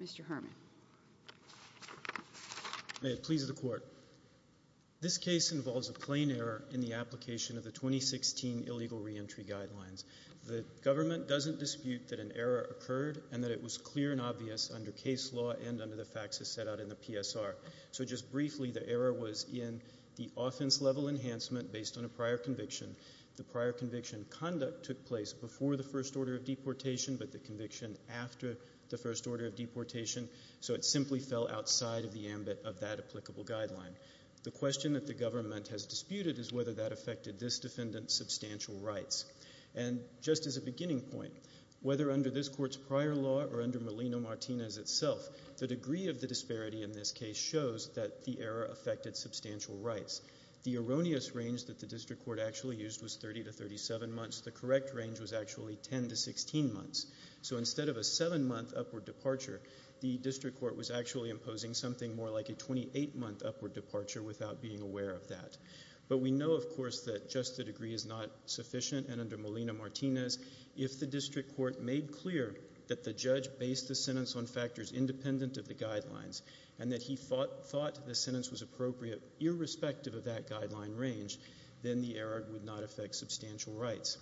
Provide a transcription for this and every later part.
Mr. Herman. May it please the court. This case involves a plain error in the application of the 2016 illegal re-entry guidelines. The government doesn't dispute that an error occurred and that it was clear and obvious under case law and under the facts as set out in the PSR. So just briefly the error was in the offense level enhancement based on a prior conviction. The prior conviction conduct took place before the first order of deportation but the conviction after the first order of deportation so it simply fell outside of the ambit of that applicable guideline. The question that the government has disputed is whether that affected this defendant's substantial rights. And just as a beginning point, whether under this court's prior law or under Melino Martinez itself, the degree of the disparity in this case shows that the error affected substantial rights. The erroneous range that the district court actually used was 30 to 37 months. The correct range was actually 10 to 16 months. So instead of a seven-month upward departure, the district court was actually imposing something more like a 28-month upward departure without being aware of that. But we know of course that just the degree is not sufficient and under Melino Martinez, if the district court made clear that the judge based the sentence on factors independent of the guidelines and that he thought the sentence was appropriate irrespective of that guideline range, then the error would not affect substantial rights.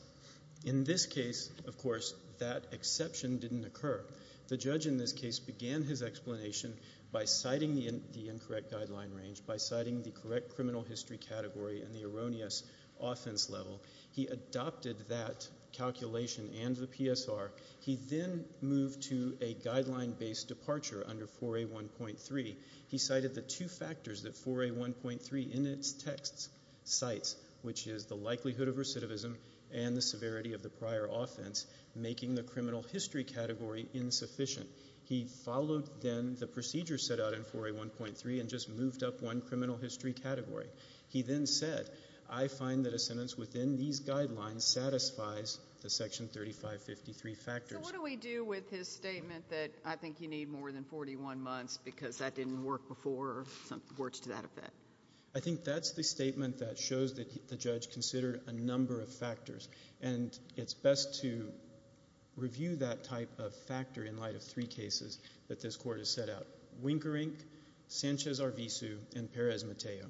In this case, of course, that exception didn't occur. The judge in this case began his explanation by citing the incorrect guideline range, by citing the correct criminal history category and the erroneous offense level. He adopted that calculation and the PSR. He then moved to a guideline-based departure under 4A1.3. He cited the two factors, which is the likelihood of recidivism and the severity of the prior offense, making the criminal history category insufficient. He followed then the procedure set out in 4A1.3 and just moved up one criminal history category. He then said, I find that a sentence within these guidelines satisfies the Section 3553 factors. So what do we do with his statement that I think you need more than 41 months because that didn't work before or some words to that effect? I think that's the statement that shows that the judge considered a number of factors. And it's best to review that type of factor in light of three cases that this Court has set out, Winkerink, Sanchez-Arvizu, and Perez-Matteo.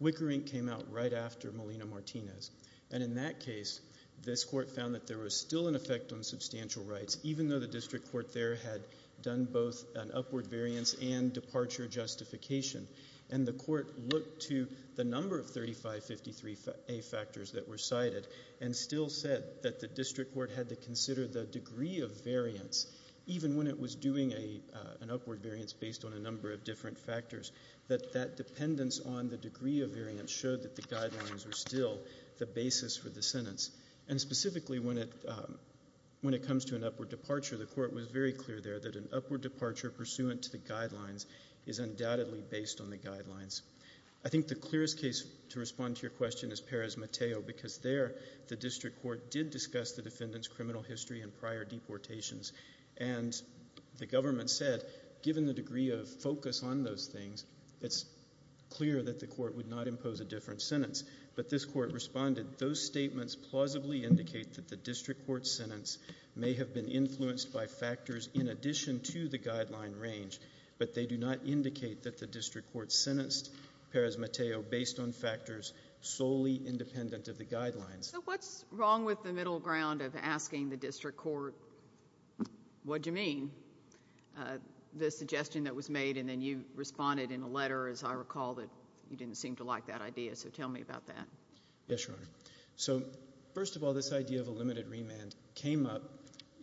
Winkerink came out right after Molina-Martinez. And in that case, this Court found that there was still an effect on substantial rights, even though the district court there had done both an upward variance and departure justification. And the Court looked to the number of 3553A factors that were cited and still said that the district court had to consider the degree of variance, even when it was doing an upward variance based on a number of different factors, that that dependence on the degree of variance showed that the guidelines were still the basis for the sentence. And specifically, when it comes to an upward departure, the Court was very sure that the upward departure pursuant to the guidelines is undoubtedly based on the guidelines. I think the clearest case to respond to your question is Perez-Matteo, because there, the district court did discuss the defendant's criminal history and prior deportations. And the government said, given the degree of focus on those things, it's clear that the court would not impose a different sentence. But this Court responded, those statements plausibly indicate that the district court's sentence may have been influenced by an addition to the guideline range, but they do not indicate that the district court sentenced Perez-Matteo based on factors solely independent of the guidelines. So what's wrong with the middle ground of asking the district court, what do you mean, the suggestion that was made? And then you responded in a letter, as I recall, that you didn't seem to like that idea. So tell me about that. Yes, Your Honor. So first of all, this idea of a limited remand came up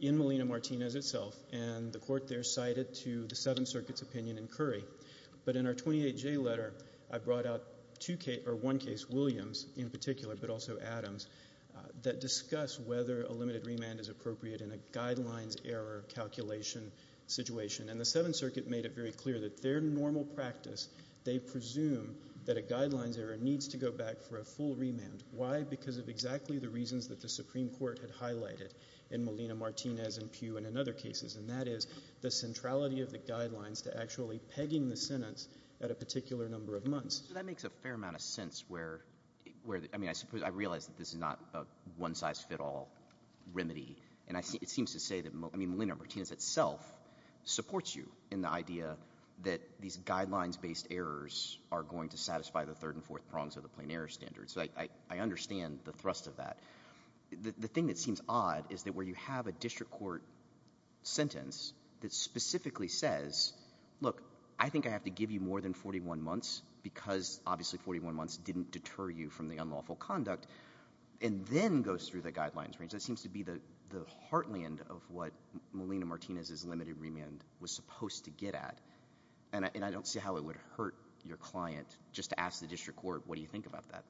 in the court there cited to the Seventh Circuit's opinion in Curry. But in our 28J letter, I brought out two cases, or one case, Williams in particular, but also Adams, that discuss whether a limited remand is appropriate in a guidelines error calculation situation. And the Seventh Circuit made it very clear that their normal practice, they presume that a guidelines error needs to go back for a full remand. Why? Because of exactly the reasons that the Supreme Court had highlighted in Molina-Martinez and Pew and in other cases. And that is the centrality of the guidelines to actually pegging the sentence at a particular number of months. So that makes a fair amount of sense where, I mean, I realize that this is not a one-size-fit-all remedy. And it seems to say that, I mean, Molina-Martinez itself supports you in the idea that these guidelines-based errors are going to satisfy the third and fourth prongs of the plain error standards. So I understand the thrust of that. The thing that seems odd is that where you have a district court sentence that specifically says, look, I think I have to give you more than 41 months because obviously 41 months didn't deter you from the unlawful conduct, and then goes through the guidelines range. That seems to be the heartland of what Molina-Martinez's limited remand was supposed to get at. And I don't see how it would hurt your client just to ask the district court, what do you think about that?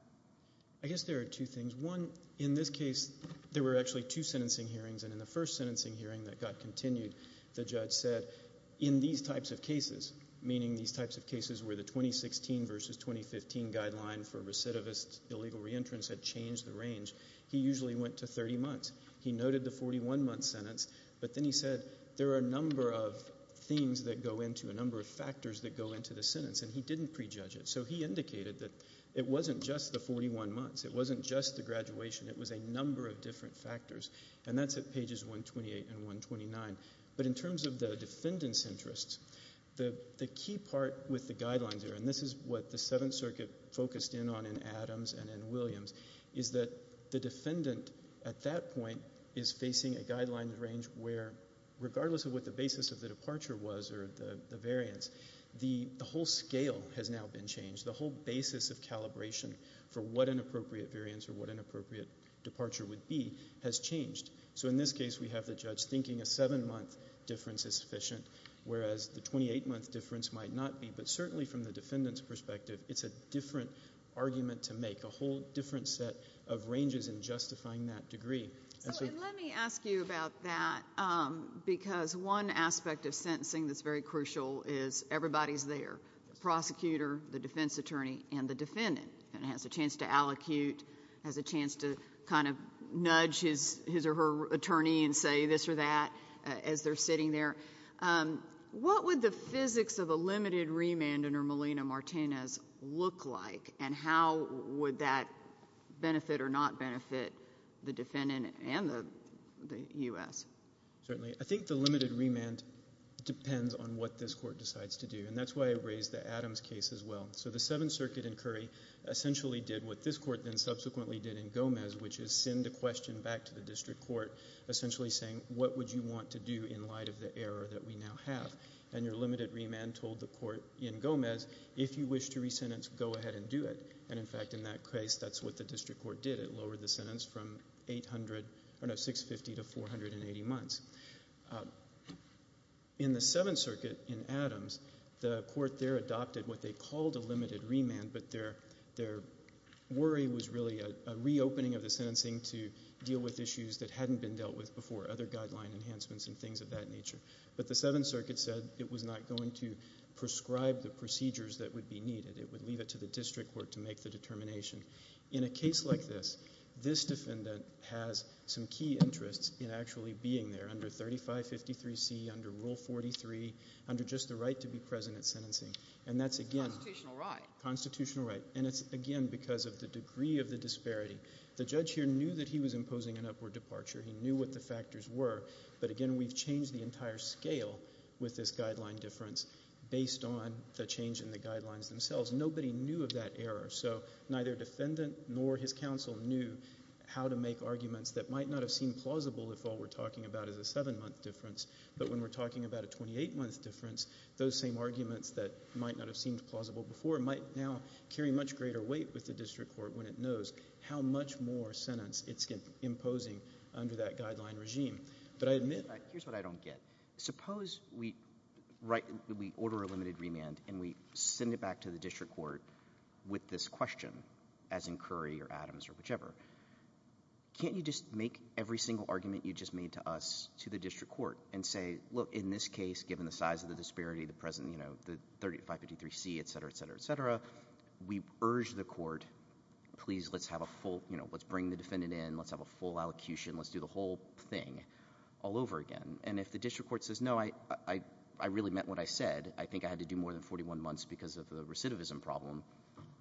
I guess there are two things. One, in this case, there were actually two cases. In the first sentencing hearing that got continued, the judge said, in these types of cases, meaning these types of cases where the 2016 versus 2015 guideline for recidivist illegal reentrance had changed the range, he usually went to 30 months. He noted the 41-month sentence. But then he said, there are a number of things that go into, a number of factors that go into the sentence. And he didn't prejudge it. So he indicated that it wasn't just the 41 months. It wasn't just the graduation. It was a number of different factors. And that's at 128 and 129. But in terms of the defendant's interests, the key part with the guidelines there, and this is what the Seventh Circuit focused in on in Adams and in Williams, is that the defendant at that point is facing a guideline range where, regardless of what the basis of the departure was or the variance, the whole scale has now been changed. The whole basis of calibration for what an appropriate variance or what an appropriate departure would be has changed. So in this case, we have the judge thinking a seven-month difference is sufficient, whereas the 28-month difference might not be. But certainly from the defendant's perspective, it's a different argument to make, a whole different set of ranges in justifying that degree. So let me ask you about that, because one aspect of sentencing that's very crucial is everybody's there, the prosecutor, the defense attorney, and the defendant. And the defense attorney and say this or that as they're sitting there. What would the physics of a limited remand under Molina-Martinez look like? And how would that benefit or not benefit the defendant and the U.S.? Certainly. I think the limited remand depends on what this Court decides to do. And that's why I raised the Adams case as well. So the Seventh Circuit in Curry essentially did what this Court then subsequently did in Gomez, which is send a saying, what would you want to do in light of the error that we now have? And your limited remand told the Court in Gomez, if you wish to resentence, go ahead and do it. And in fact, in that case, that's what the district court did. It lowered the sentence from 800, no, 650 to 480 months. In the Seventh Circuit in Adams, the Court there adopted what they called a limited remand, but their worry was really a reopening of the sentencing to deal with issues that hadn't been dealt with before, other guideline enhancements and things of that nature. But the Seventh Circuit said it was not going to prescribe the procedures that would be needed. It would leave it to the district court to make the determination. In a case like this, this defendant has some key interests in actually being there under 3553C, under Rule 43, under just the right to be present at sentencing. And that's again constitutional right. And it's again because of the degree of the disparity. The judge here knew that he was imposing an upward departure. He knew what the factors were. But again, we've changed the entire scale with this guideline difference based on the change in the guidelines themselves. Nobody knew of that error. So neither defendant nor his counsel knew how to make arguments that might not have seemed plausible if all we're talking about is a seven-month difference. But when we're talking about a 28-month difference, those same arguments that might not have seemed plausible before might now carry much greater weight with the district court when it knows how much more sentence it's imposing under that guideline regime. But I admit... Here's what I don't get. Suppose we order a limited remand and we send it back to the district court with this question, as in Curry or Adams or whichever. Can't you just make every single argument you just made to us to the district court and say, look, in this case, given the size of the disparity, the present, you know, the 3553C, etc., etc., etc., we urge the court, please let's have a full, you know, let's bring the defendant in, let's have a full allocution, let's do the whole thing all over again. And if the district court says, no, I really meant what I said, I think I had to do more than 41 months because of the recidivism problem,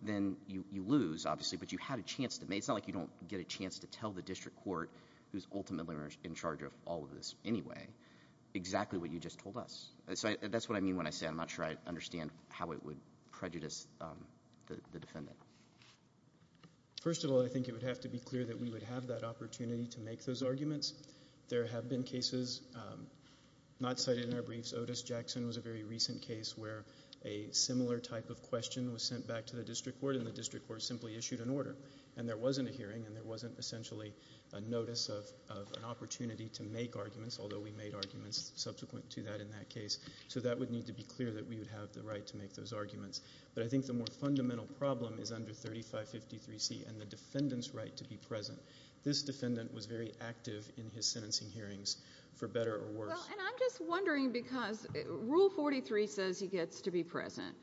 then you lose, obviously, but you had a chance to make... It's not like you don't get a chance to tell the district court, who's ultimately in charge of all of this anyway, exactly what you just told us. So that's what I mean when I say I'm not sure I understand how it would prejudice the defendant. First of all, I think it would have to be clear that we would have that opportunity to make those arguments. There have been cases not cited in our briefs. Otis Jackson was a very recent case where a similar type of question was sent back to the district court and the district court simply issued an order. And there wasn't a hearing and there wasn't essentially a notice of an opportunity to make arguments, although we made arguments subsequent to that in that case. So that would need to be clear that we would have the right to make those arguments. But I think the more fundamental problem is under 3553C and the defendant's right to be present. This defendant was very active in his sentencing hearings, for better or worse. And I'm just wondering because Rule 43 says he gets to be present,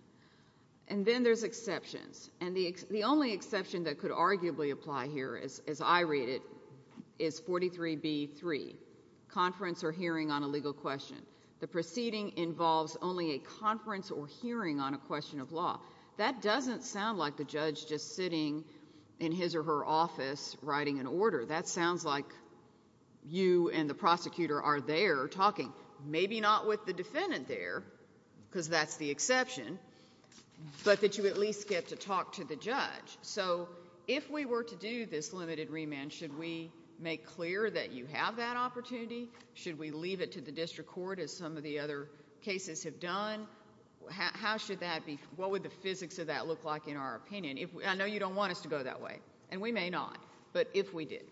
and then there's exceptions. And the only exception that could arguably apply here, as I read it, is 43B.3, conference or hearing on a legal question. The proceeding involves only a conference or hearing on a question of law. That doesn't sound like the judge just sitting in his or her office writing an order. That sounds like you and the prosecutor are there talking, maybe not with the defendant there because that's the exception, but that you at least get to talk to the judge. So if we were to do this limited remand, should we make clear that you have that opportunity? Should we leave it to the district court, as some of the other cases have done? How should that be? What would the physics of that look like in our opinion? I know you don't want us to go that way, and we may not, but if we did.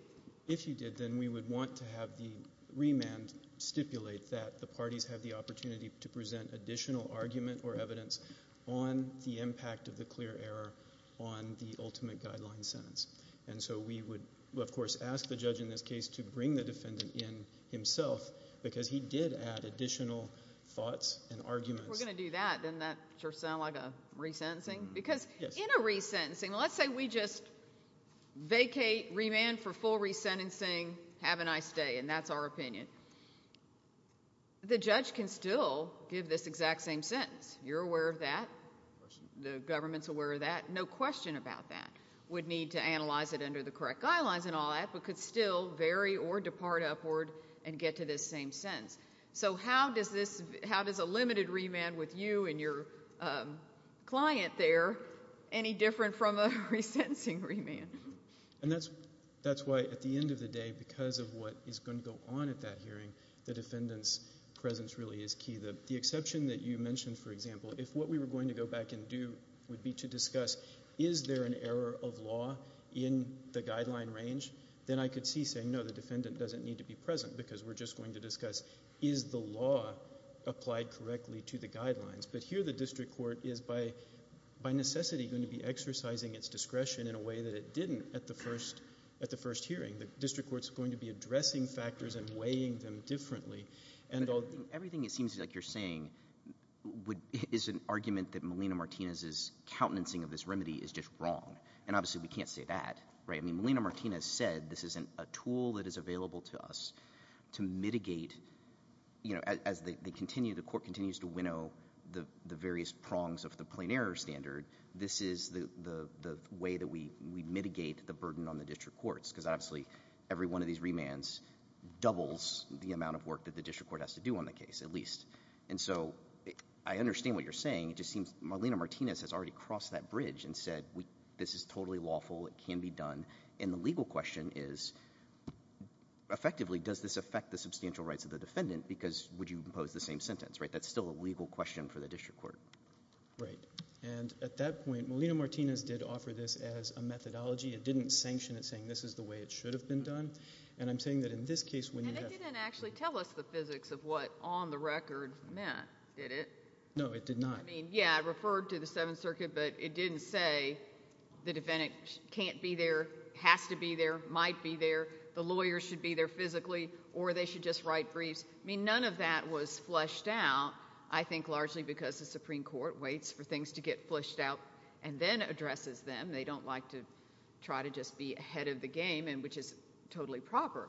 If you did, then we would want to have the remand stipulate that the parties have the opportunity to present additional argument or evidence on the impact of the clear error on the ultimate guideline sentence. And so we would, of course, ask the judge in this case to bring the defendant in himself because he did add additional thoughts and arguments. If we're going to do that, then that sure sounds like a resentencing. Because in a resentencing, let's say we just vacate, remand for full resentencing, have a nice day, and that's our opinion. The judge can still give this exact same sentence. You're aware of that. The government's aware of that. No question about that. Would need to analyze it under the correct guidelines and all that, but could still vary or depart upward and get to this same sentence. So how does a limited remand with you and your client there any different from a resentencing remand? And that's why at the end of the day, because of what is going to go on at that hearing, the defendant's presence really is key. The exception that you mentioned, for example, if what we were going to go back and do would be to discuss, is there an error of law in the guideline range, then I could see, no, the defendant doesn't need to be present because we're just going to discuss, is the law applied correctly to the guidelines? But here the district court is by necessity going to be exercising its discretion in a way that it didn't at the first hearing. The district court's going to be addressing factors and weighing them differently. I think everything it seems like you're saying is an argument that Melina Martinez's countenancing of this remedy is just wrong. And obviously we can't say that. I mean, Melina Martinez said this isn't a tool that is available to us to mitigate... as the court continues to winnow the various prongs of the plain error standard, this is the way that we mitigate the burden on the district courts. Because obviously every one of these remands doubles the amount of work that the district court has to do on the case, at least. And so I understand what you're saying. It just seems Melina Martinez has already crossed that bridge and said, this is totally lawful, it can be done. And the legal question is, effectively, does this affect the substantial rights of the defendant? Because would you impose the same sentence, right? That's still a legal question for the district court. Right. And at that point, Melina Martinez did offer this as a methodology. It didn't sanction it saying this is the way it should have been done. And I'm saying that in this case... And it didn't actually tell us the physics of what on the record meant, did it? No, it did not. Yeah, I referred to the Seventh Circuit, but it didn't say the defendant can't be there, has to be there, might be there, the lawyer should be there physically, or they should just write briefs. I mean, none of that was fleshed out. I think largely because the Supreme Court waits for things to get fleshed out and then addresses them. They don't like to try to just be ahead of the game, which is totally proper.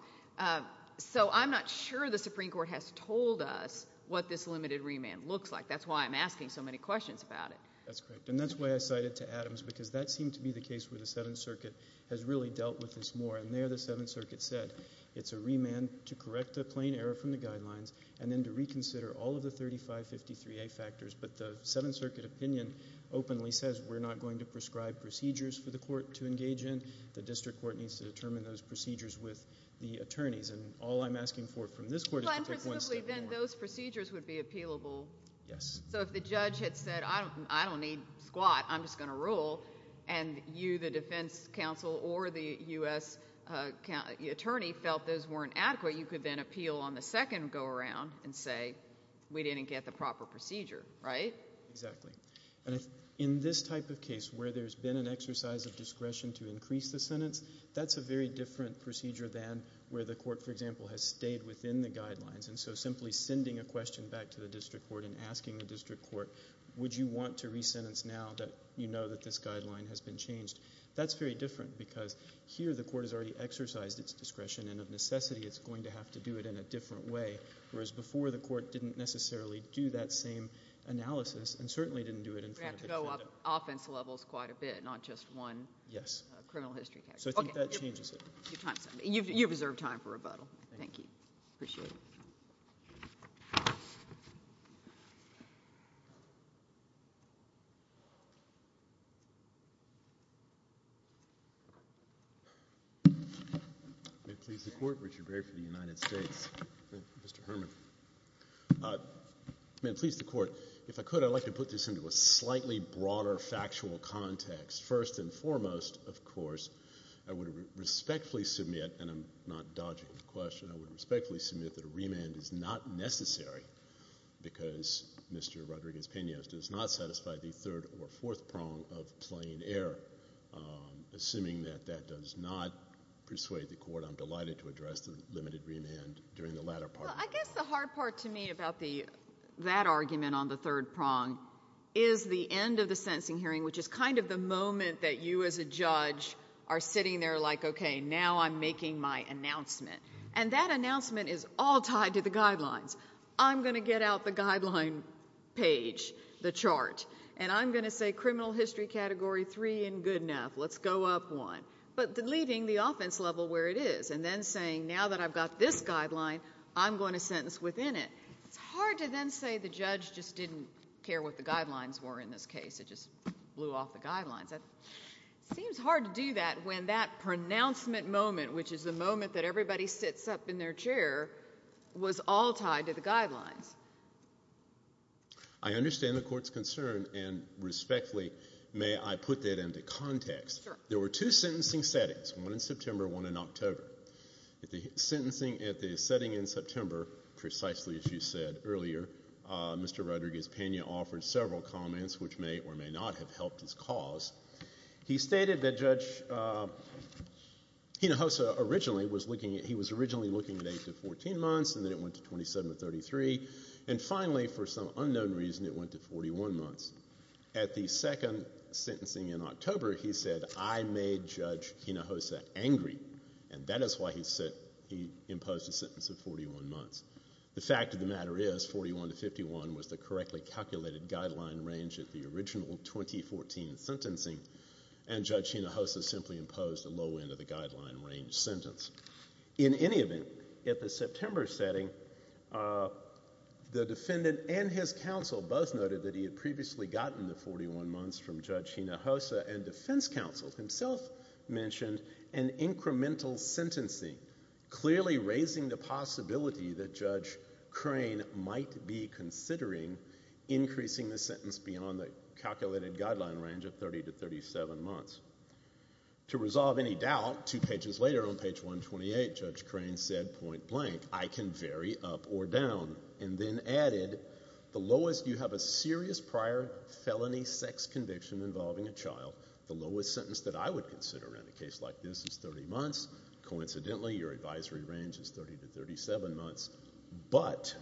So I'm not sure the Supreme Court has told us what this limited remand looks like. That's why I'm asking so many questions about it. That's correct. And that's why I cited to Adams because that seemed to be the case where the Seventh Circuit has really dealt with this more. And there the Seventh Circuit said it's a remand to correct a plain error from the guidelines and then to reconsider all of the 3553A factors. But the Seventh Circuit opinion openly says we're not going to prescribe procedures for the court to engage in. The district court needs to determine those procedures with the attorneys. And all I'm asking for from this court is to take one step more. So you think then those procedures would be appealable? Yes. So if the judge had said, I don't need squat. I'm just going to rule. And you, the defense counsel, or the U.S. attorney felt those weren't adequate, you could then appeal on the second go-around and say we didn't get the proper procedure, right? Exactly. And in this type of case where there's been an exercise of discretion to increase the sentence, that's a very different procedure than where the court, for example, has stayed within the guidelines. And so simply sending a question back to the district court and asking the district court, would you want to re-sentence now that you know that this guideline has been changed? That's very different because here the court has already exercised its discretion and of necessity it's going to have to do it in a different way. Whereas before the court didn't necessarily do that same analysis and certainly didn't do it in front of the defendant. You have to go up offense levels quite a bit, not just one criminal history category. Yes. So I think that changes it. You've reserved time for rebuttal. Thank you. I appreciate it. May it please the Court. Richard Berry for the United States. Mr. Herman. May it please the Court. If I could, I'd like to put this into a slightly broader factual context. First and foremost, of course, I would respect please submit, and I'm not dodging the question, I would respectfully submit that a remand is not necessary because Mr. Rodriguez-Pena does not satisfy the third or fourth prong of plain error. Assuming that that does not persuade the court, I'm delighted to address the limited remand during the latter part. I guess the hard part to me about that argument on the third prong is the end of the sentencing hearing, which is kind of the moment that you as a judge say, now I'm making my announcement. And that announcement is all tied to the guidelines. I'm going to get out the guideline page, the chart, and I'm going to say criminal history category 3 and good enough. Let's go up one. But deleting the offense level where it is and then saying now that I've got this guideline, I'm going to sentence within it. It's hard to then say the judge just didn't care what the guidelines were in this case. It just blew off the guidelines. It seems hard to do that when that pronouncement moment, which is the moment that everybody sits up in their chair, was all tied to the guidelines. I understand the court's concern. And respectfully, may I put that into context? Sure. There were two sentencing settings, one in September, one in October. At the sentencing, at the setting in September, precisely as you said earlier, Mr. Rodriguez-Pena offered several comments which may or may not have helped his cause. He stated that Judge Hinojosa originally was looking at, he was originally looking at 8 to 14 months and then it went to 27 to 33. And finally, for some unknown reason, it went to 41 months. At the second sentencing in October, he said, I made Judge Hinojosa angry. And that is why he imposed a sentence of 41 months. The fact of the matter is, 41 to 51 was the correctly calculated guideline range at the original 2014 sentencing. And Judge Hinojosa simply imposed a low end of the guideline range sentence. In any event, at the September setting, the defendant and his counsel both noted that he had previously gotten the 41 months from Judge Hinojosa and defense counsel himself mentioned an incremental sentencing, clearly raising the possibility that Judge Crane might be considering increasing the sentence beyond the calculated guideline range of 30 to 37 months. To resolve any doubt, two pages later on page 128, Judge Crane said, point blank, I can vary up or down. And then added, the lowest, you have a serious prior felony sex conviction involving a child, the lowest sentence that I would consider in a case like this is 30 months. Coincidentally, your advisory range is 30 to 37 months. But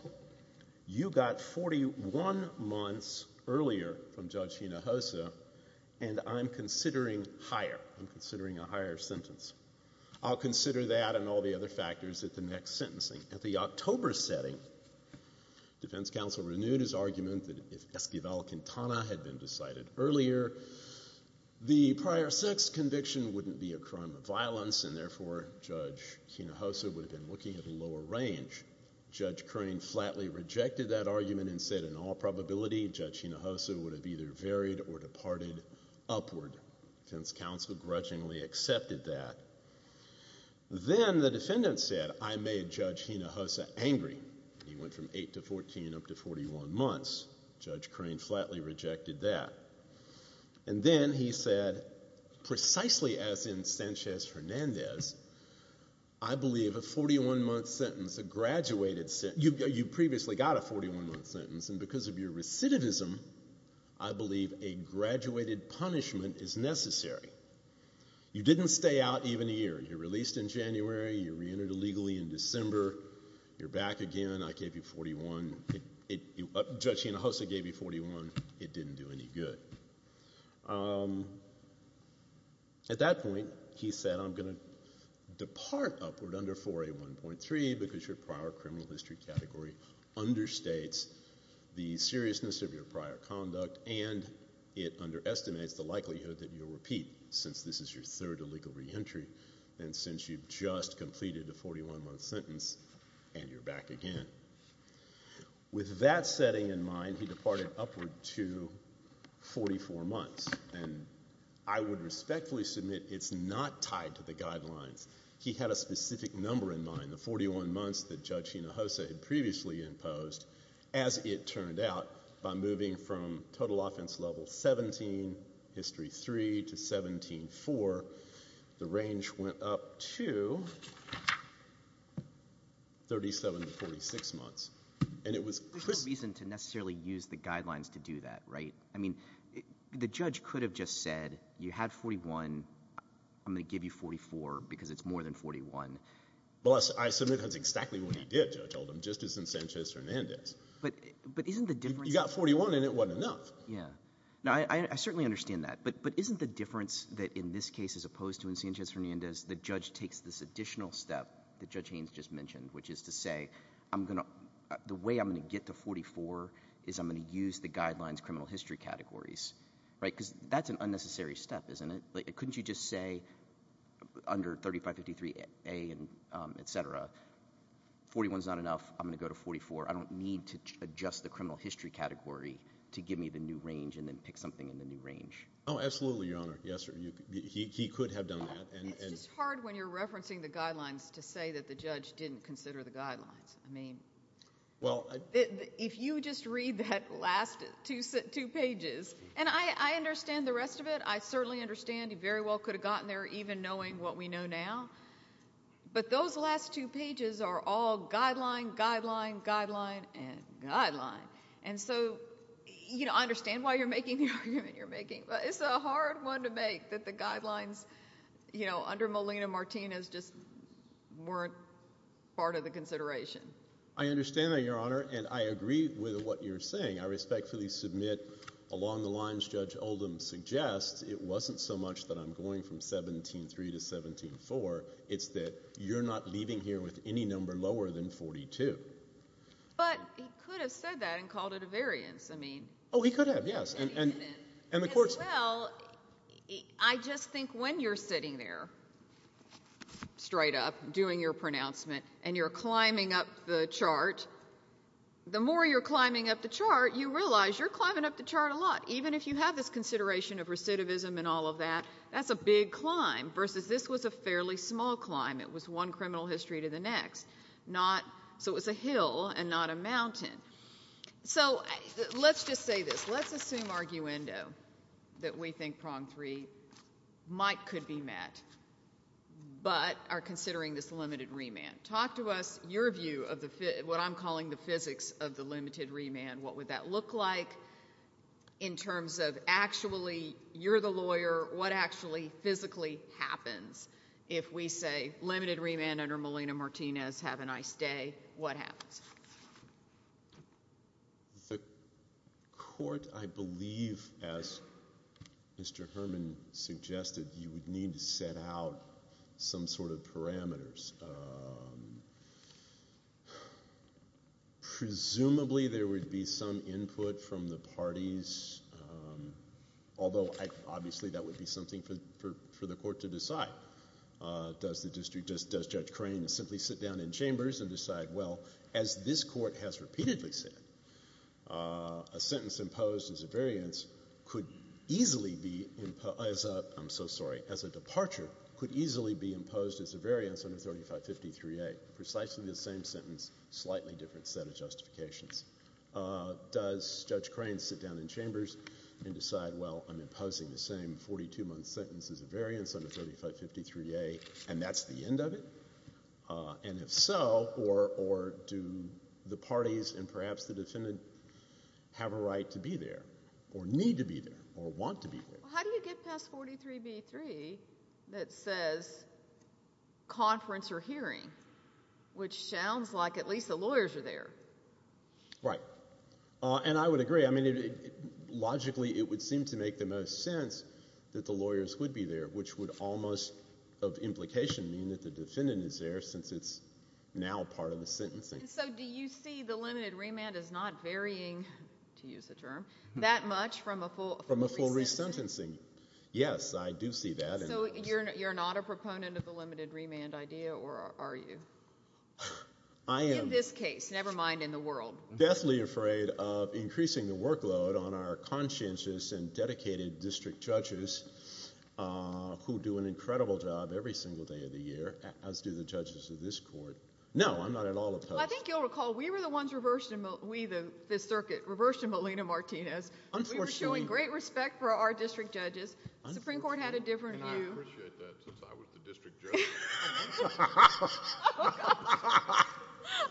you got 41 months earlier from Judge Hinojosa and I'm considering higher. I'm considering a higher sentence. I'll consider that and all the other factors at the next sentencing. At the October setting, defense counsel renewed his argument that if Esquivel-Quintana had been decided earlier, and therefore Judge Hinojosa would have been looking at a lower range. Judge Crane flatly rejected that argument and said in all probability Judge Hinojosa would have either varied or departed upward. Defense counsel grudgingly accepted that. Then the defendant said, I made Judge Hinojosa angry. He went from 8 to 14 up to 41 months. Judge Crane flatly rejected that. And then he said, precisely as in Sanchez-Hernandez, I believe a 41-month sentence, a graduated sentence, you previously got a 41-month sentence and because of your recidivism, I believe a graduated punishment is necessary. You didn't stay out even a year. You're released in January. You're reentered illegally in December. You're back again. I gave you 41. Judge Hinojosa gave you 41. It didn't do any good. At that point, he said, I'm going to depart upward under 4A1.3 because your prior criminal history category understates the seriousness of your prior conduct and it underestimates the likelihood that you'll repeat since this is your third illegal reentry and since you've just completed a 41-month sentence and you're back again. With that setting in mind, he departed upward to 44 months. And I would respectfully submit it's not tied to the guidelines. He had a specific number in mind, the 41 months that Judge Hinojosa had previously imposed. As it turned out, by moving from total offense level 17, history 3, to 17-4, the range went up to 37 to 46 months. There's no reason to necessarily use the guidelines to do that, right? I mean the judge could have just said you had 41. I'm going to give you 44 because it's more than 41. Well, I submit that's exactly what he did, Judge Oldham, just as in Sanchez-Hernandez. But isn't the difference— You got 41 and it wasn't enough. I certainly understand that. But isn't the difference that in this case, as opposed to in Sanchez-Hernandez, the judge takes this additional step that Judge Haynes just mentioned, which is to say the way I'm going to get to 44 is I'm going to use the guidelines criminal history categories. Because that's an unnecessary step, isn't it? Couldn't you just say under 3553A and et cetera, 41 is not enough. I'm going to go to 44. I don't need to adjust the criminal history category to give me the new range and then pick something in the new range. Oh, absolutely, Your Honor. Yes, sir. He could have done that. It's just hard when you're referencing the guidelines to say that the judge didn't consider the guidelines. I mean, if you just read that last two pages—and I understand the rest of it. I certainly understand you very well could have gotten there even knowing what we know now. But those last two pages are all guideline, guideline, guideline, and guideline. And so I understand why you're making the argument you're making, but it's a hard one to make that the guidelines under Molina-Martinez just weren't part of the consideration. I understand that, Your Honor, and I agree with what you're saying. I respectfully submit along the lines Judge Oldham suggests, it wasn't so much that I'm going from 17-3 to 17-4. It's that you're not leaving here with any number lower than 42. But he could have said that and called it a variance. I mean— Oh, he could have, yes. And the court— As well, I just think when you're sitting there straight up doing your pronouncement and you're climbing up the chart, the more you're climbing up the chart, you realize you're climbing up the chart a lot, even if you have this consideration of recidivism and all of that. That's a big climb versus this was a fairly small climb. It was one criminal history to the next. So it was a hill and not a mountain. So let's just say this. Let's assume arguendo that we think prong three might—could be met but are considering this limited remand. Talk to us your view of what I'm calling the physics of the limited remand. What would that look like in terms of actually you're the lawyer, what actually physically happens? If we say limited remand under Molina-Martinez, have a nice day, what happens? The court, I believe, as Mr. Herman suggested, you would need to set out some sort of parameters. Presumably there would be some input from the parties, although obviously that would be something for the court to decide. Does Judge Crane simply sit down in chambers and decide, well, as this court has repeatedly said, a sentence imposed as a variance could easily be—I'm so sorry, as a departure could easily be imposed as a variance under 3553A. Precisely the same sentence, slightly different set of justifications. Does Judge Crane sit down in chambers and decide, well, I'm imposing the same 42-month sentence as a variance under 3553A, and that's the end of it? And if so, or do the parties and perhaps the defendant have a right to be there or need to be there or want to be there? How do you get past 43b-3 that says conference or hearing, which sounds like at least the lawyers are there? Right. And I would agree. I mean, logically it would seem to make the most sense that the lawyers would be there, which would almost of implication mean that the defendant is there since it's now part of the sentencing. So do you see the limited remand as not varying, to use a term, that much from a full resentencing? From a full resentencing, yes, I do see that. So you're not a proponent of the limited remand idea, or are you? In this case, never mind in the world. I am deathly afraid of increasing the workload on our conscientious and dedicated district judges who do an incredible job every single day of the year, as do the judges of this court. No, I'm not at all opposed. Well, I think you'll recall we were the ones reversed in this circuit, reversed in Molina-Martinez. We were showing great respect for our district judges. The Supreme Court had a different view. I appreciate that, since I was the district judge.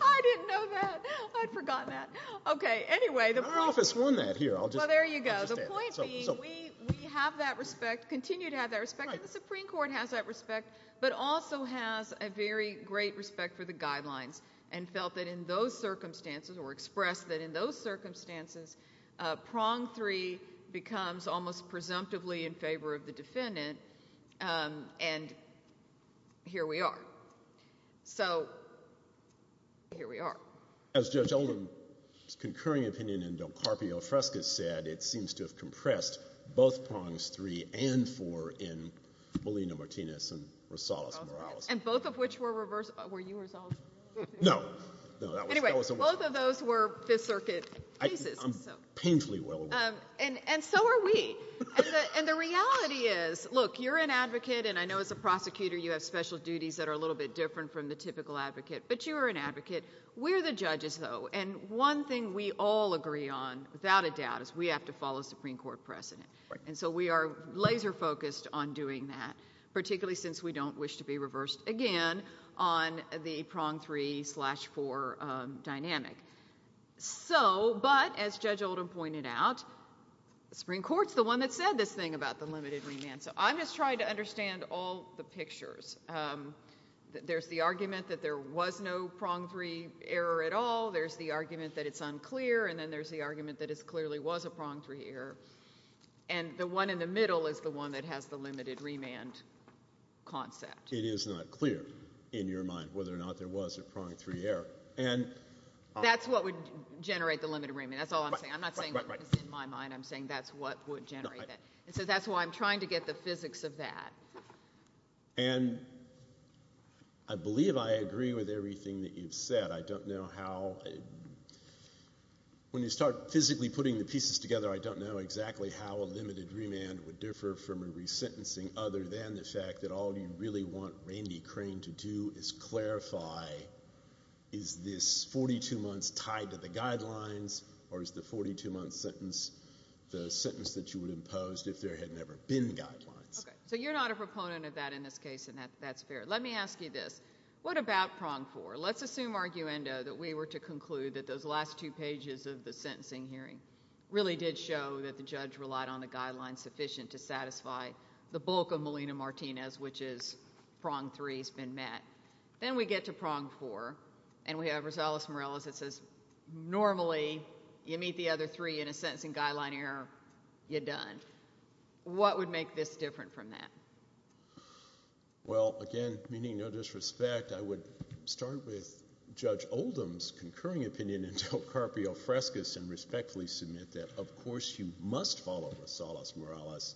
I didn't know that. I'd forgotten that. Okay, anyway. Our office won that here. Well, there you go. The point being we have that respect, continue to have that respect, and the Supreme Court has that respect, but also has a very great respect for the guidelines and felt that in those circumstances or expressed that in those circumstances, prong three becomes almost presumptively in favor of the defendant, and here we are. So here we are. As Judge Oldham's concurring opinion in Del Carpio-Frescas said, it seems to have compressed both prongs three and four in Molina-Martinez and Rosales-Morales. And both of which were reversed. Were you Rosales-Morales? No. Anyway, both of those were Fifth Circuit cases. I'm painfully well aware. And so are we. And the reality is, look, you're an advocate, and I know as a prosecutor you have special duties that are a little bit different from the typical advocate, but you are an advocate. We're the judges, though, and one thing we all agree on, without a doubt, is we have to follow Supreme Court precedent. And so we are laser-focused on doing that, So, but as Judge Oldham pointed out, Supreme Court's the one that said this thing about the limited remand. So I'm just trying to understand all the pictures. There's the argument that there was no prong three error at all. There's the argument that it's unclear. And then there's the argument that it clearly was a prong three error. And the one in the middle is the one that has the limited remand concept. It is not clear in your mind whether or not there was a prong three error. That's what would generate the limited remand. That's all I'm saying. I'm not saying what was in my mind. I'm saying that's what would generate that. And so that's why I'm trying to get the physics of that. And I believe I agree with everything that you've said. I don't know how. When you start physically putting the pieces together, I don't know exactly how a limited remand would differ from a resentencing other than the fact that all you really want Randy Crane to do is clarify, is this 42 months tied to the guidelines, or is the 42-month sentence the sentence that you would impose if there had never been guidelines? Okay, so you're not a proponent of that in this case, and that's fair. Let me ask you this. What about prong four? Let's assume, arguendo, that we were to conclude that those last two pages of the sentencing hearing really did show that the judge relied on the guidelines sufficient to satisfy the bulk of Molina-Martinez, which is prong three has been met. Then we get to prong four, and we have Rosales-Morales that says, normally you meet the other three in a sentencing guideline error, you're done. What would make this different from that? Well, again, meaning no disrespect, I would start with Judge Oldham's concurring opinion and respectfully submit that, of course, you must follow Rosales-Morales,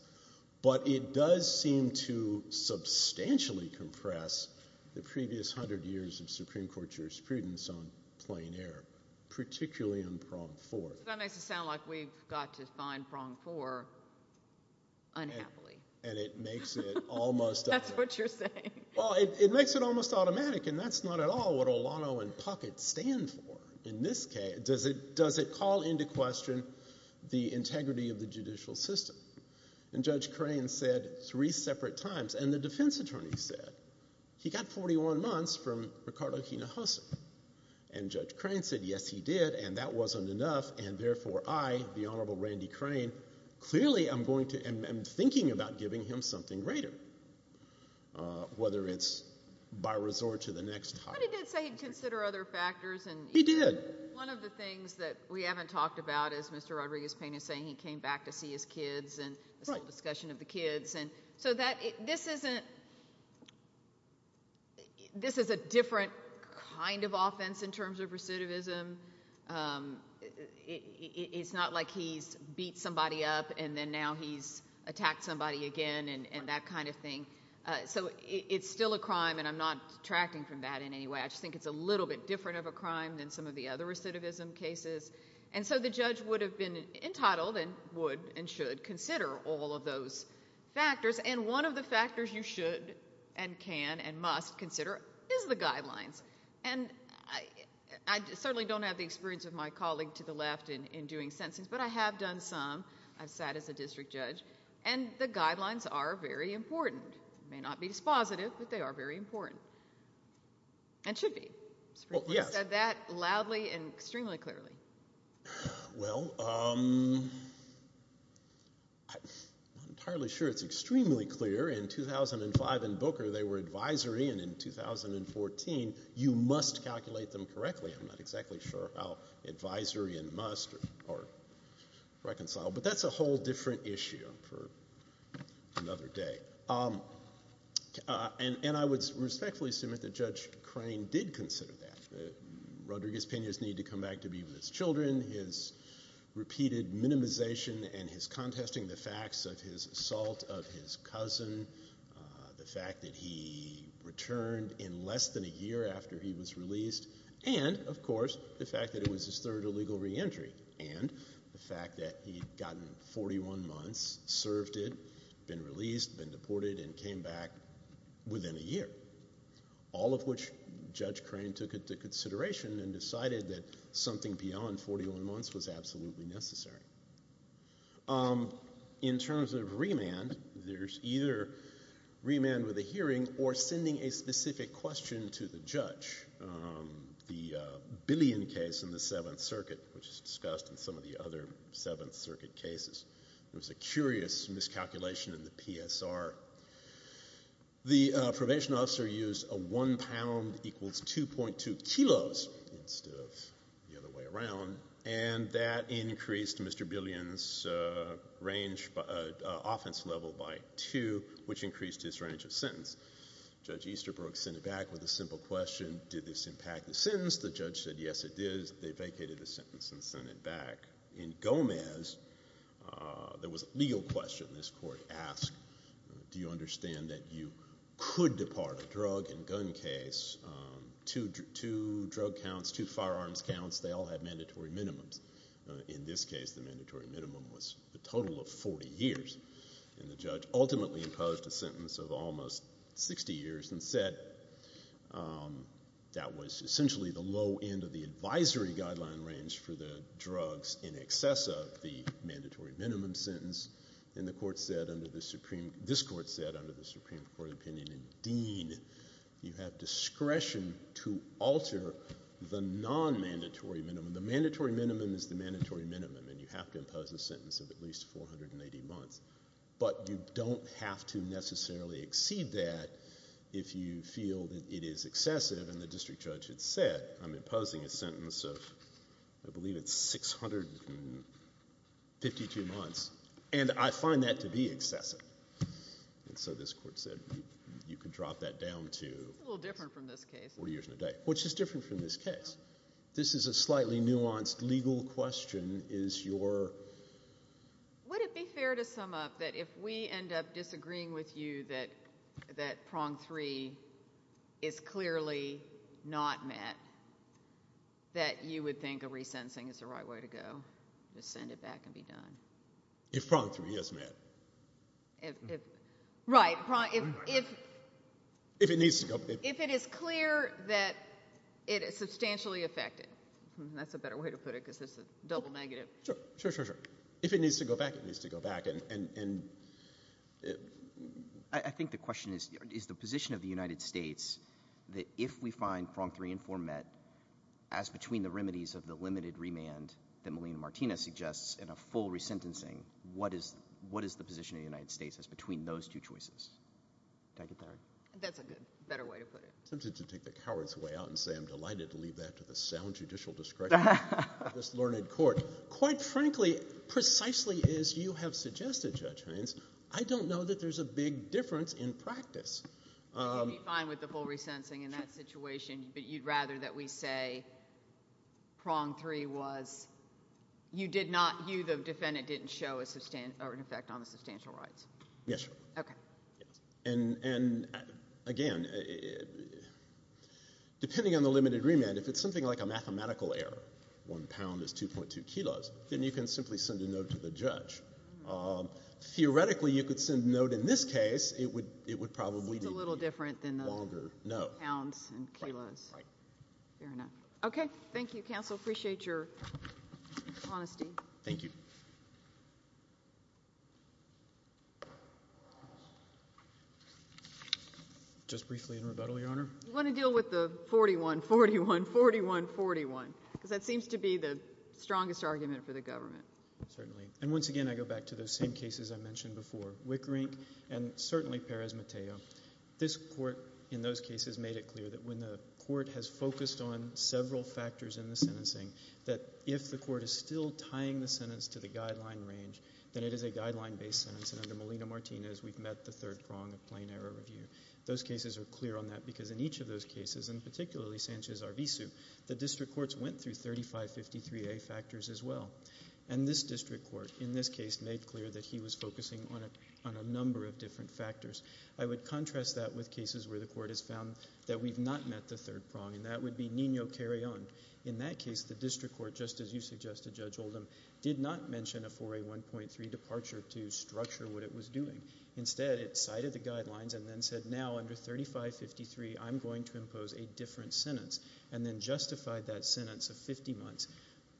but it does seem to substantially compress the previous hundred years of Supreme Court jurisprudence on plain error, particularly on prong four. That makes it sound like we've got to find prong four unhappily. That's what you're saying. Does it call into question the integrity of the judicial system? And Judge Crane said three separate times, and the defense attorney said, he got 41 months from Ricardo Hinojosa. And Judge Crane said, yes, he did, and that wasn't enough, and therefore I, the Honorable Randy Crane, clearly am thinking about giving him something greater, whether it's by resort to the next time. But he did say he'd consider other factors. He did. One of the things that we haven't talked about is Mr. Rodriguez-Payne is saying he came back to see his kids and a small discussion of the kids. So this is a different kind of offense in terms of recidivism. It's not like he's beat somebody up and then now he's attacked somebody again and that kind of thing. So it's still a crime, and I'm not detracting from that in any way. I just think it's a little bit different of a crime than some of the other recidivism cases. And so the judge would have been entitled and would and should consider all of those factors, and one of the factors you should and can and must consider is the guidelines. And I certainly don't have the experience of my colleague to the left in doing sentencing, but I have done some. I've sat as a district judge, and the guidelines are very important. They may not be dispositive, but they are very important and should be. You said that loudly and extremely clearly. Well, I'm not entirely sure it's extremely clear. In 2005 in Booker they were advisory, and in 2014 you must calculate them correctly. I'm not exactly sure how advisory and must are reconciled, but that's a whole different issue for another day. And I would respectfully assume that Judge Crane did consider that. Rodriguez-Pena's need to come back to be with his children, his repeated minimization and his contesting the facts of his assault of his cousin, the fact that he returned in less than a year after he was released, and of course the fact that it was his third illegal reentry and the fact that he had gotten 41 months, served it, been released, been deported, and came back within a year, all of which Judge Crane took into consideration and decided that something beyond 41 months was absolutely necessary. In terms of remand, there's either remand with a hearing or sending a specific question to the judge. The Billion case in the Seventh Circuit, which is discussed in some of the other Seventh Circuit cases, there was a curious miscalculation in the PSR. The probation officer used a one pound equals 2.2 kilos instead of the other way around, and that increased Mr. Billion's range, offense level by two, which increased his range of sentence. Judge Easterbrook sent it back with a simple question, did this impact the sentence? The judge said, yes, it did. They vacated the sentence and sent it back. In Gomez, there was a legal question this court asked, do you understand that you could depart a drug and gun case? Two drug counts, two firearms counts, they all had mandatory minimums. In this case, the mandatory minimum was a total of 40 years, and the judge ultimately imposed a sentence of almost 60 years and said that was essentially the low end of the advisory guideline range for the drugs in excess of the mandatory minimum sentence, and this court said under the Supreme Court opinion in Dean, you have discretion to alter the non-mandatory minimum. The mandatory minimum is the mandatory minimum, and you have to impose a sentence of at least 480 months, but you don't have to necessarily exceed that if you feel that it is excessive, and the district judge had said I'm imposing a sentence of I believe it's 652 months, and I find that to be excessive, and so this court said you can drop that down to 40 years and a day, which is different from this case. This is a slightly nuanced legal question. Would it be fair to sum up that if we end up disagreeing with you that prong three is clearly not met, that you would think a resentencing is the right way to go, just send it back and be done? If prong three, yes, ma'am. Right. If it needs to go back. If it is clear that it is substantially affected. That's a better way to put it because it's a double negative. Sure, sure, sure, sure. If it needs to go back, it needs to go back. I think the question is, is the position of the United States that if we find prong three and four met, as between the remedies of the limited remand that Melina Martinez suggests and a full resentencing, what is the position of the United States as between those two choices? Did I get that right? That's a better way to put it. I'm tempted to take the coward's way out and say I'm delighted to leave that to the sound judicial discretion of this learned court. Quite frankly, precisely as you have suggested, Judge Hines, I don't know that there's a big difference in practice. You'd be fine with the full resentencing in that situation, but you'd rather that we say prong three was you did not, you, the defendant, didn't show an effect on the substantial rights? Yes, Your Honor. Okay. And, again, depending on the limited remand, if it's something like a mathematical error, one pound is 2.2 kilos, then you can simply send a note to the judge. Theoretically, you could send a note. In this case, it would probably be a longer note. Pounds and kilos. Right. Fair enough. Okay. Thank you, counsel. Appreciate your honesty. Thank you. Just briefly in rebuttal, Your Honor. You want to deal with the 41-41, 41-41, because that seems to be the strongest argument for the government. Certainly. And, once again, I go back to those same cases I mentioned before, Wickerink and certainly Perez Mateo. This court, in those cases, made it clear that when the court has focused on several factors in the sentencing, that if the court is still tying the sentence to the guideline range, then it is a guideline-based sentence. And under Molina-Martinez, we've met the third prong of plain error review. Those cases are clear on that because in each of those cases, and particularly Sanchez-Arvizu, the district courts went through 3553A factors as well. And this district court, in this case, made clear that he was focusing on a number of different factors. I would contrast that with cases where the court has found that we've not met the third prong, and that would be Nino Carreon. In that case, the district court, just as you suggested, Judge Oldham, did not mention a 4A1.3 departure to structure what it was doing. Instead, it cited the guidelines and then said, now, under 3553, I'm going to impose a different sentence, and then justified that sentence of 50 months,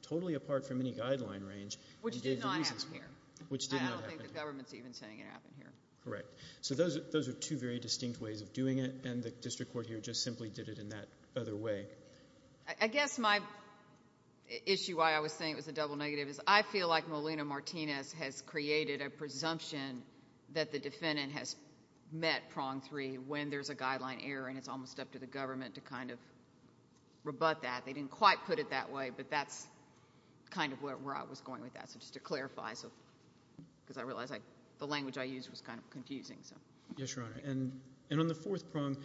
totally apart from any guideline range. Which did not happen here. Which did not happen here. I don't think the government's even saying it happened here. Correct. So those are two very distinct ways of doing it, and the district court here just simply did it in that other way. I guess my issue why I was saying it was a double negative is I feel like Molina-Martinez has created a presumption that the defendant has met prong 3 when there's a guideline error, and it's almost up to the government to kind of rebut that. They didn't quite put it that way, but that's kind of where I was going with that. Just to clarify, because I realize the language I used was kind of confusing. Yes, Your Honor. And on the fourth prong,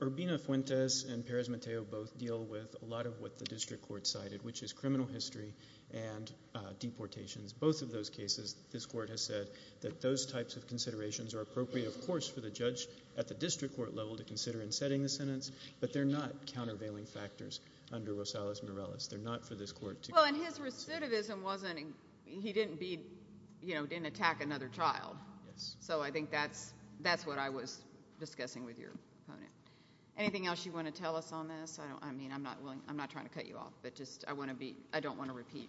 Urbina-Fuentes and Perez-Matteo both deal with a lot of what the district court cited, which is criminal history and deportations. Both of those cases, this court has said that those types of considerations are appropriate, of course, for the judge at the district court level to consider in setting the sentence, but they're not countervailing factors under Rosales-Morales. They're not for this court to consider. Well, and his recidivism wasn't he didn't attack another child. Yes. So I think that's what I was discussing with your opponent. Anything else you want to tell us on this? I mean, I'm not trying to cut you off, but I don't want to repeat.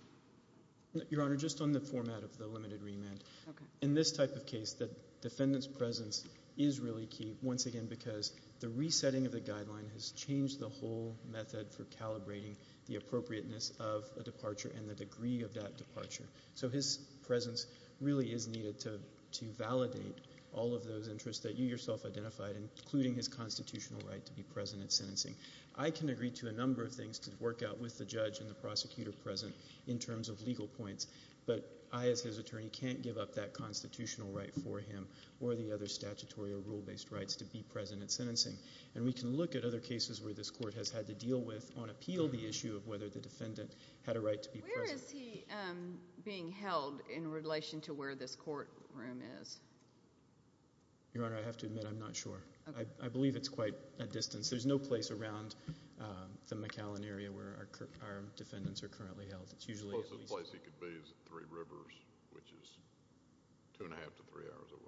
Your Honor, just on the format of the limited remand. Okay. In this type of case, the defendant's presence is really key, once again, because the resetting of the guideline has changed the whole method for calibrating the appropriateness of a departure and the degree of that departure. So his presence really is needed to validate all of those interests that you yourself identified, including his constitutional right to be present at sentencing. I can agree to a number of things to work out with the judge and the prosecutor present in terms of legal points, but I, as his attorney, can't give up that constitutional right for him or the other statutory or rule-based rights to be present at sentencing. And we can look at other cases where this court has had to deal with on appeal the issue of whether the defendant had a right to be present. Where is he being held in relation to where this courtroom is? Your Honor, I have to admit I'm not sure. I believe it's quite a distance. There's no place around the McAllen area where our defendants are currently held. The closest place he could be is at Three Rivers, which is two and a half to three hours away.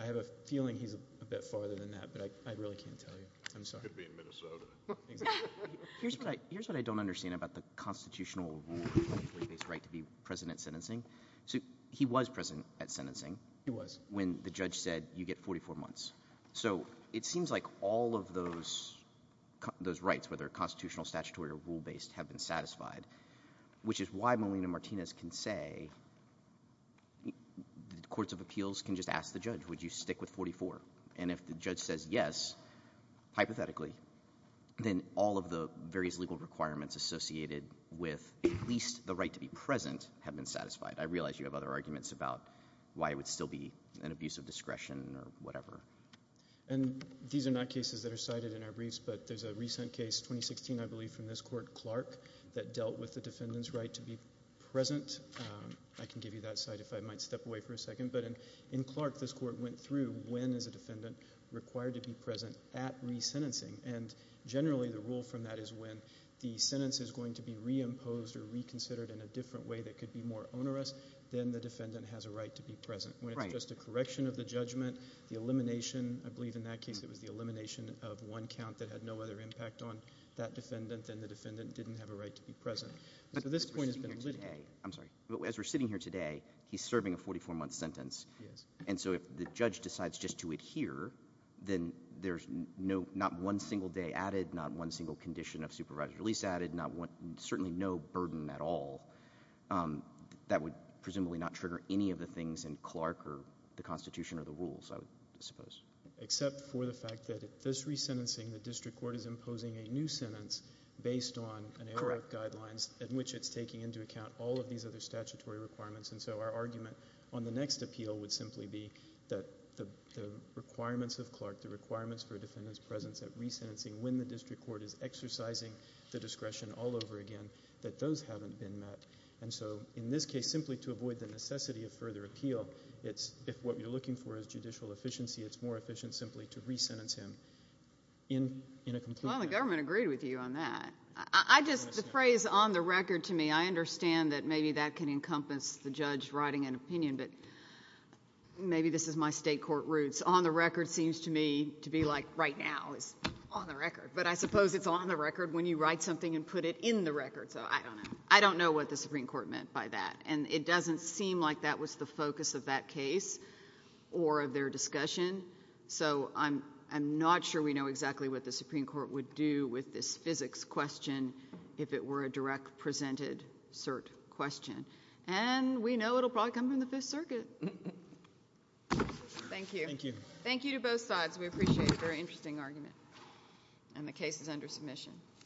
I have a feeling he's a bit farther than that, but I really can't tell you. He could be in Minnesota. Here's what I don't understand about the constitutional right to be present at sentencing. He was present at sentencing. He was. When the judge said you get 44 months. So it seems like all of those rights, whether constitutional, statutory, or rule-based, have been satisfied, which is why Molina-Martinez can say the courts of appeals can just ask the judge, would you stick with 44? And if the judge says yes, hypothetically, then all of the various legal requirements associated with at least the right to be present have been satisfied. I realize you have other arguments about why it would still be an abuse of discretion or whatever. And these are not cases that are cited in our briefs, but there's a recent case, 2016, I believe, from this court, Clark, that dealt with the defendant's right to be present. I can give you that site if I might step away for a second. But in Clark, this court went through when is a defendant required to be present at resentencing. And generally the rule from that is when the sentence is going to be reimposed or reconsidered in a different way that could be more onerous, then the defendant has a right to be present. When it's just a correction of the judgment, the elimination, I believe in that case it was the elimination of one count that had no other impact on that defendant, then the defendant didn't have a right to be present. So this point has been litigated. But as we're sitting here today, he's serving a 44-month sentence. He is. And so if the judge decides just to adhere, then there's not one single day added, not one single condition of supervised release added, certainly no burden at all that would presumably not trigger any of the things in Clark or the Constitution or the rules, I would suppose. Except for the fact that at this resentencing, the district court is imposing a new sentence based on AOL guidelines, in which it's taking into account all of these other statutory requirements. And so our argument on the next appeal would simply be that the requirements of Clark, the requirements for a defendant's presence at resentencing when the district court is exercising the discretion all over again, that those haven't been met. And so in this case, simply to avoid the necessity of further appeal, if what you're looking for is judicial efficiency, it's more efficient simply to resentence him in a complete manner. Well, the government agreed with you on that. The phrase on the record to me, I understand that maybe that can encompass the judge writing an opinion, but maybe this is my state court roots. On the record seems to me to be like right now is on the record. But I suppose it's on the record when you write something and put it in the record. So I don't know. I don't know what the Supreme Court meant by that. And it doesn't seem like that was the focus of that case or of their discussion. So I'm not sure we know exactly what the Supreme Court would do with this physics question if it were a direct presented cert question. And we know it will probably come from the Fifth Circuit. Thank you. Thank you. Thank you to both sides. We appreciate a very interesting argument. And the case is under submission.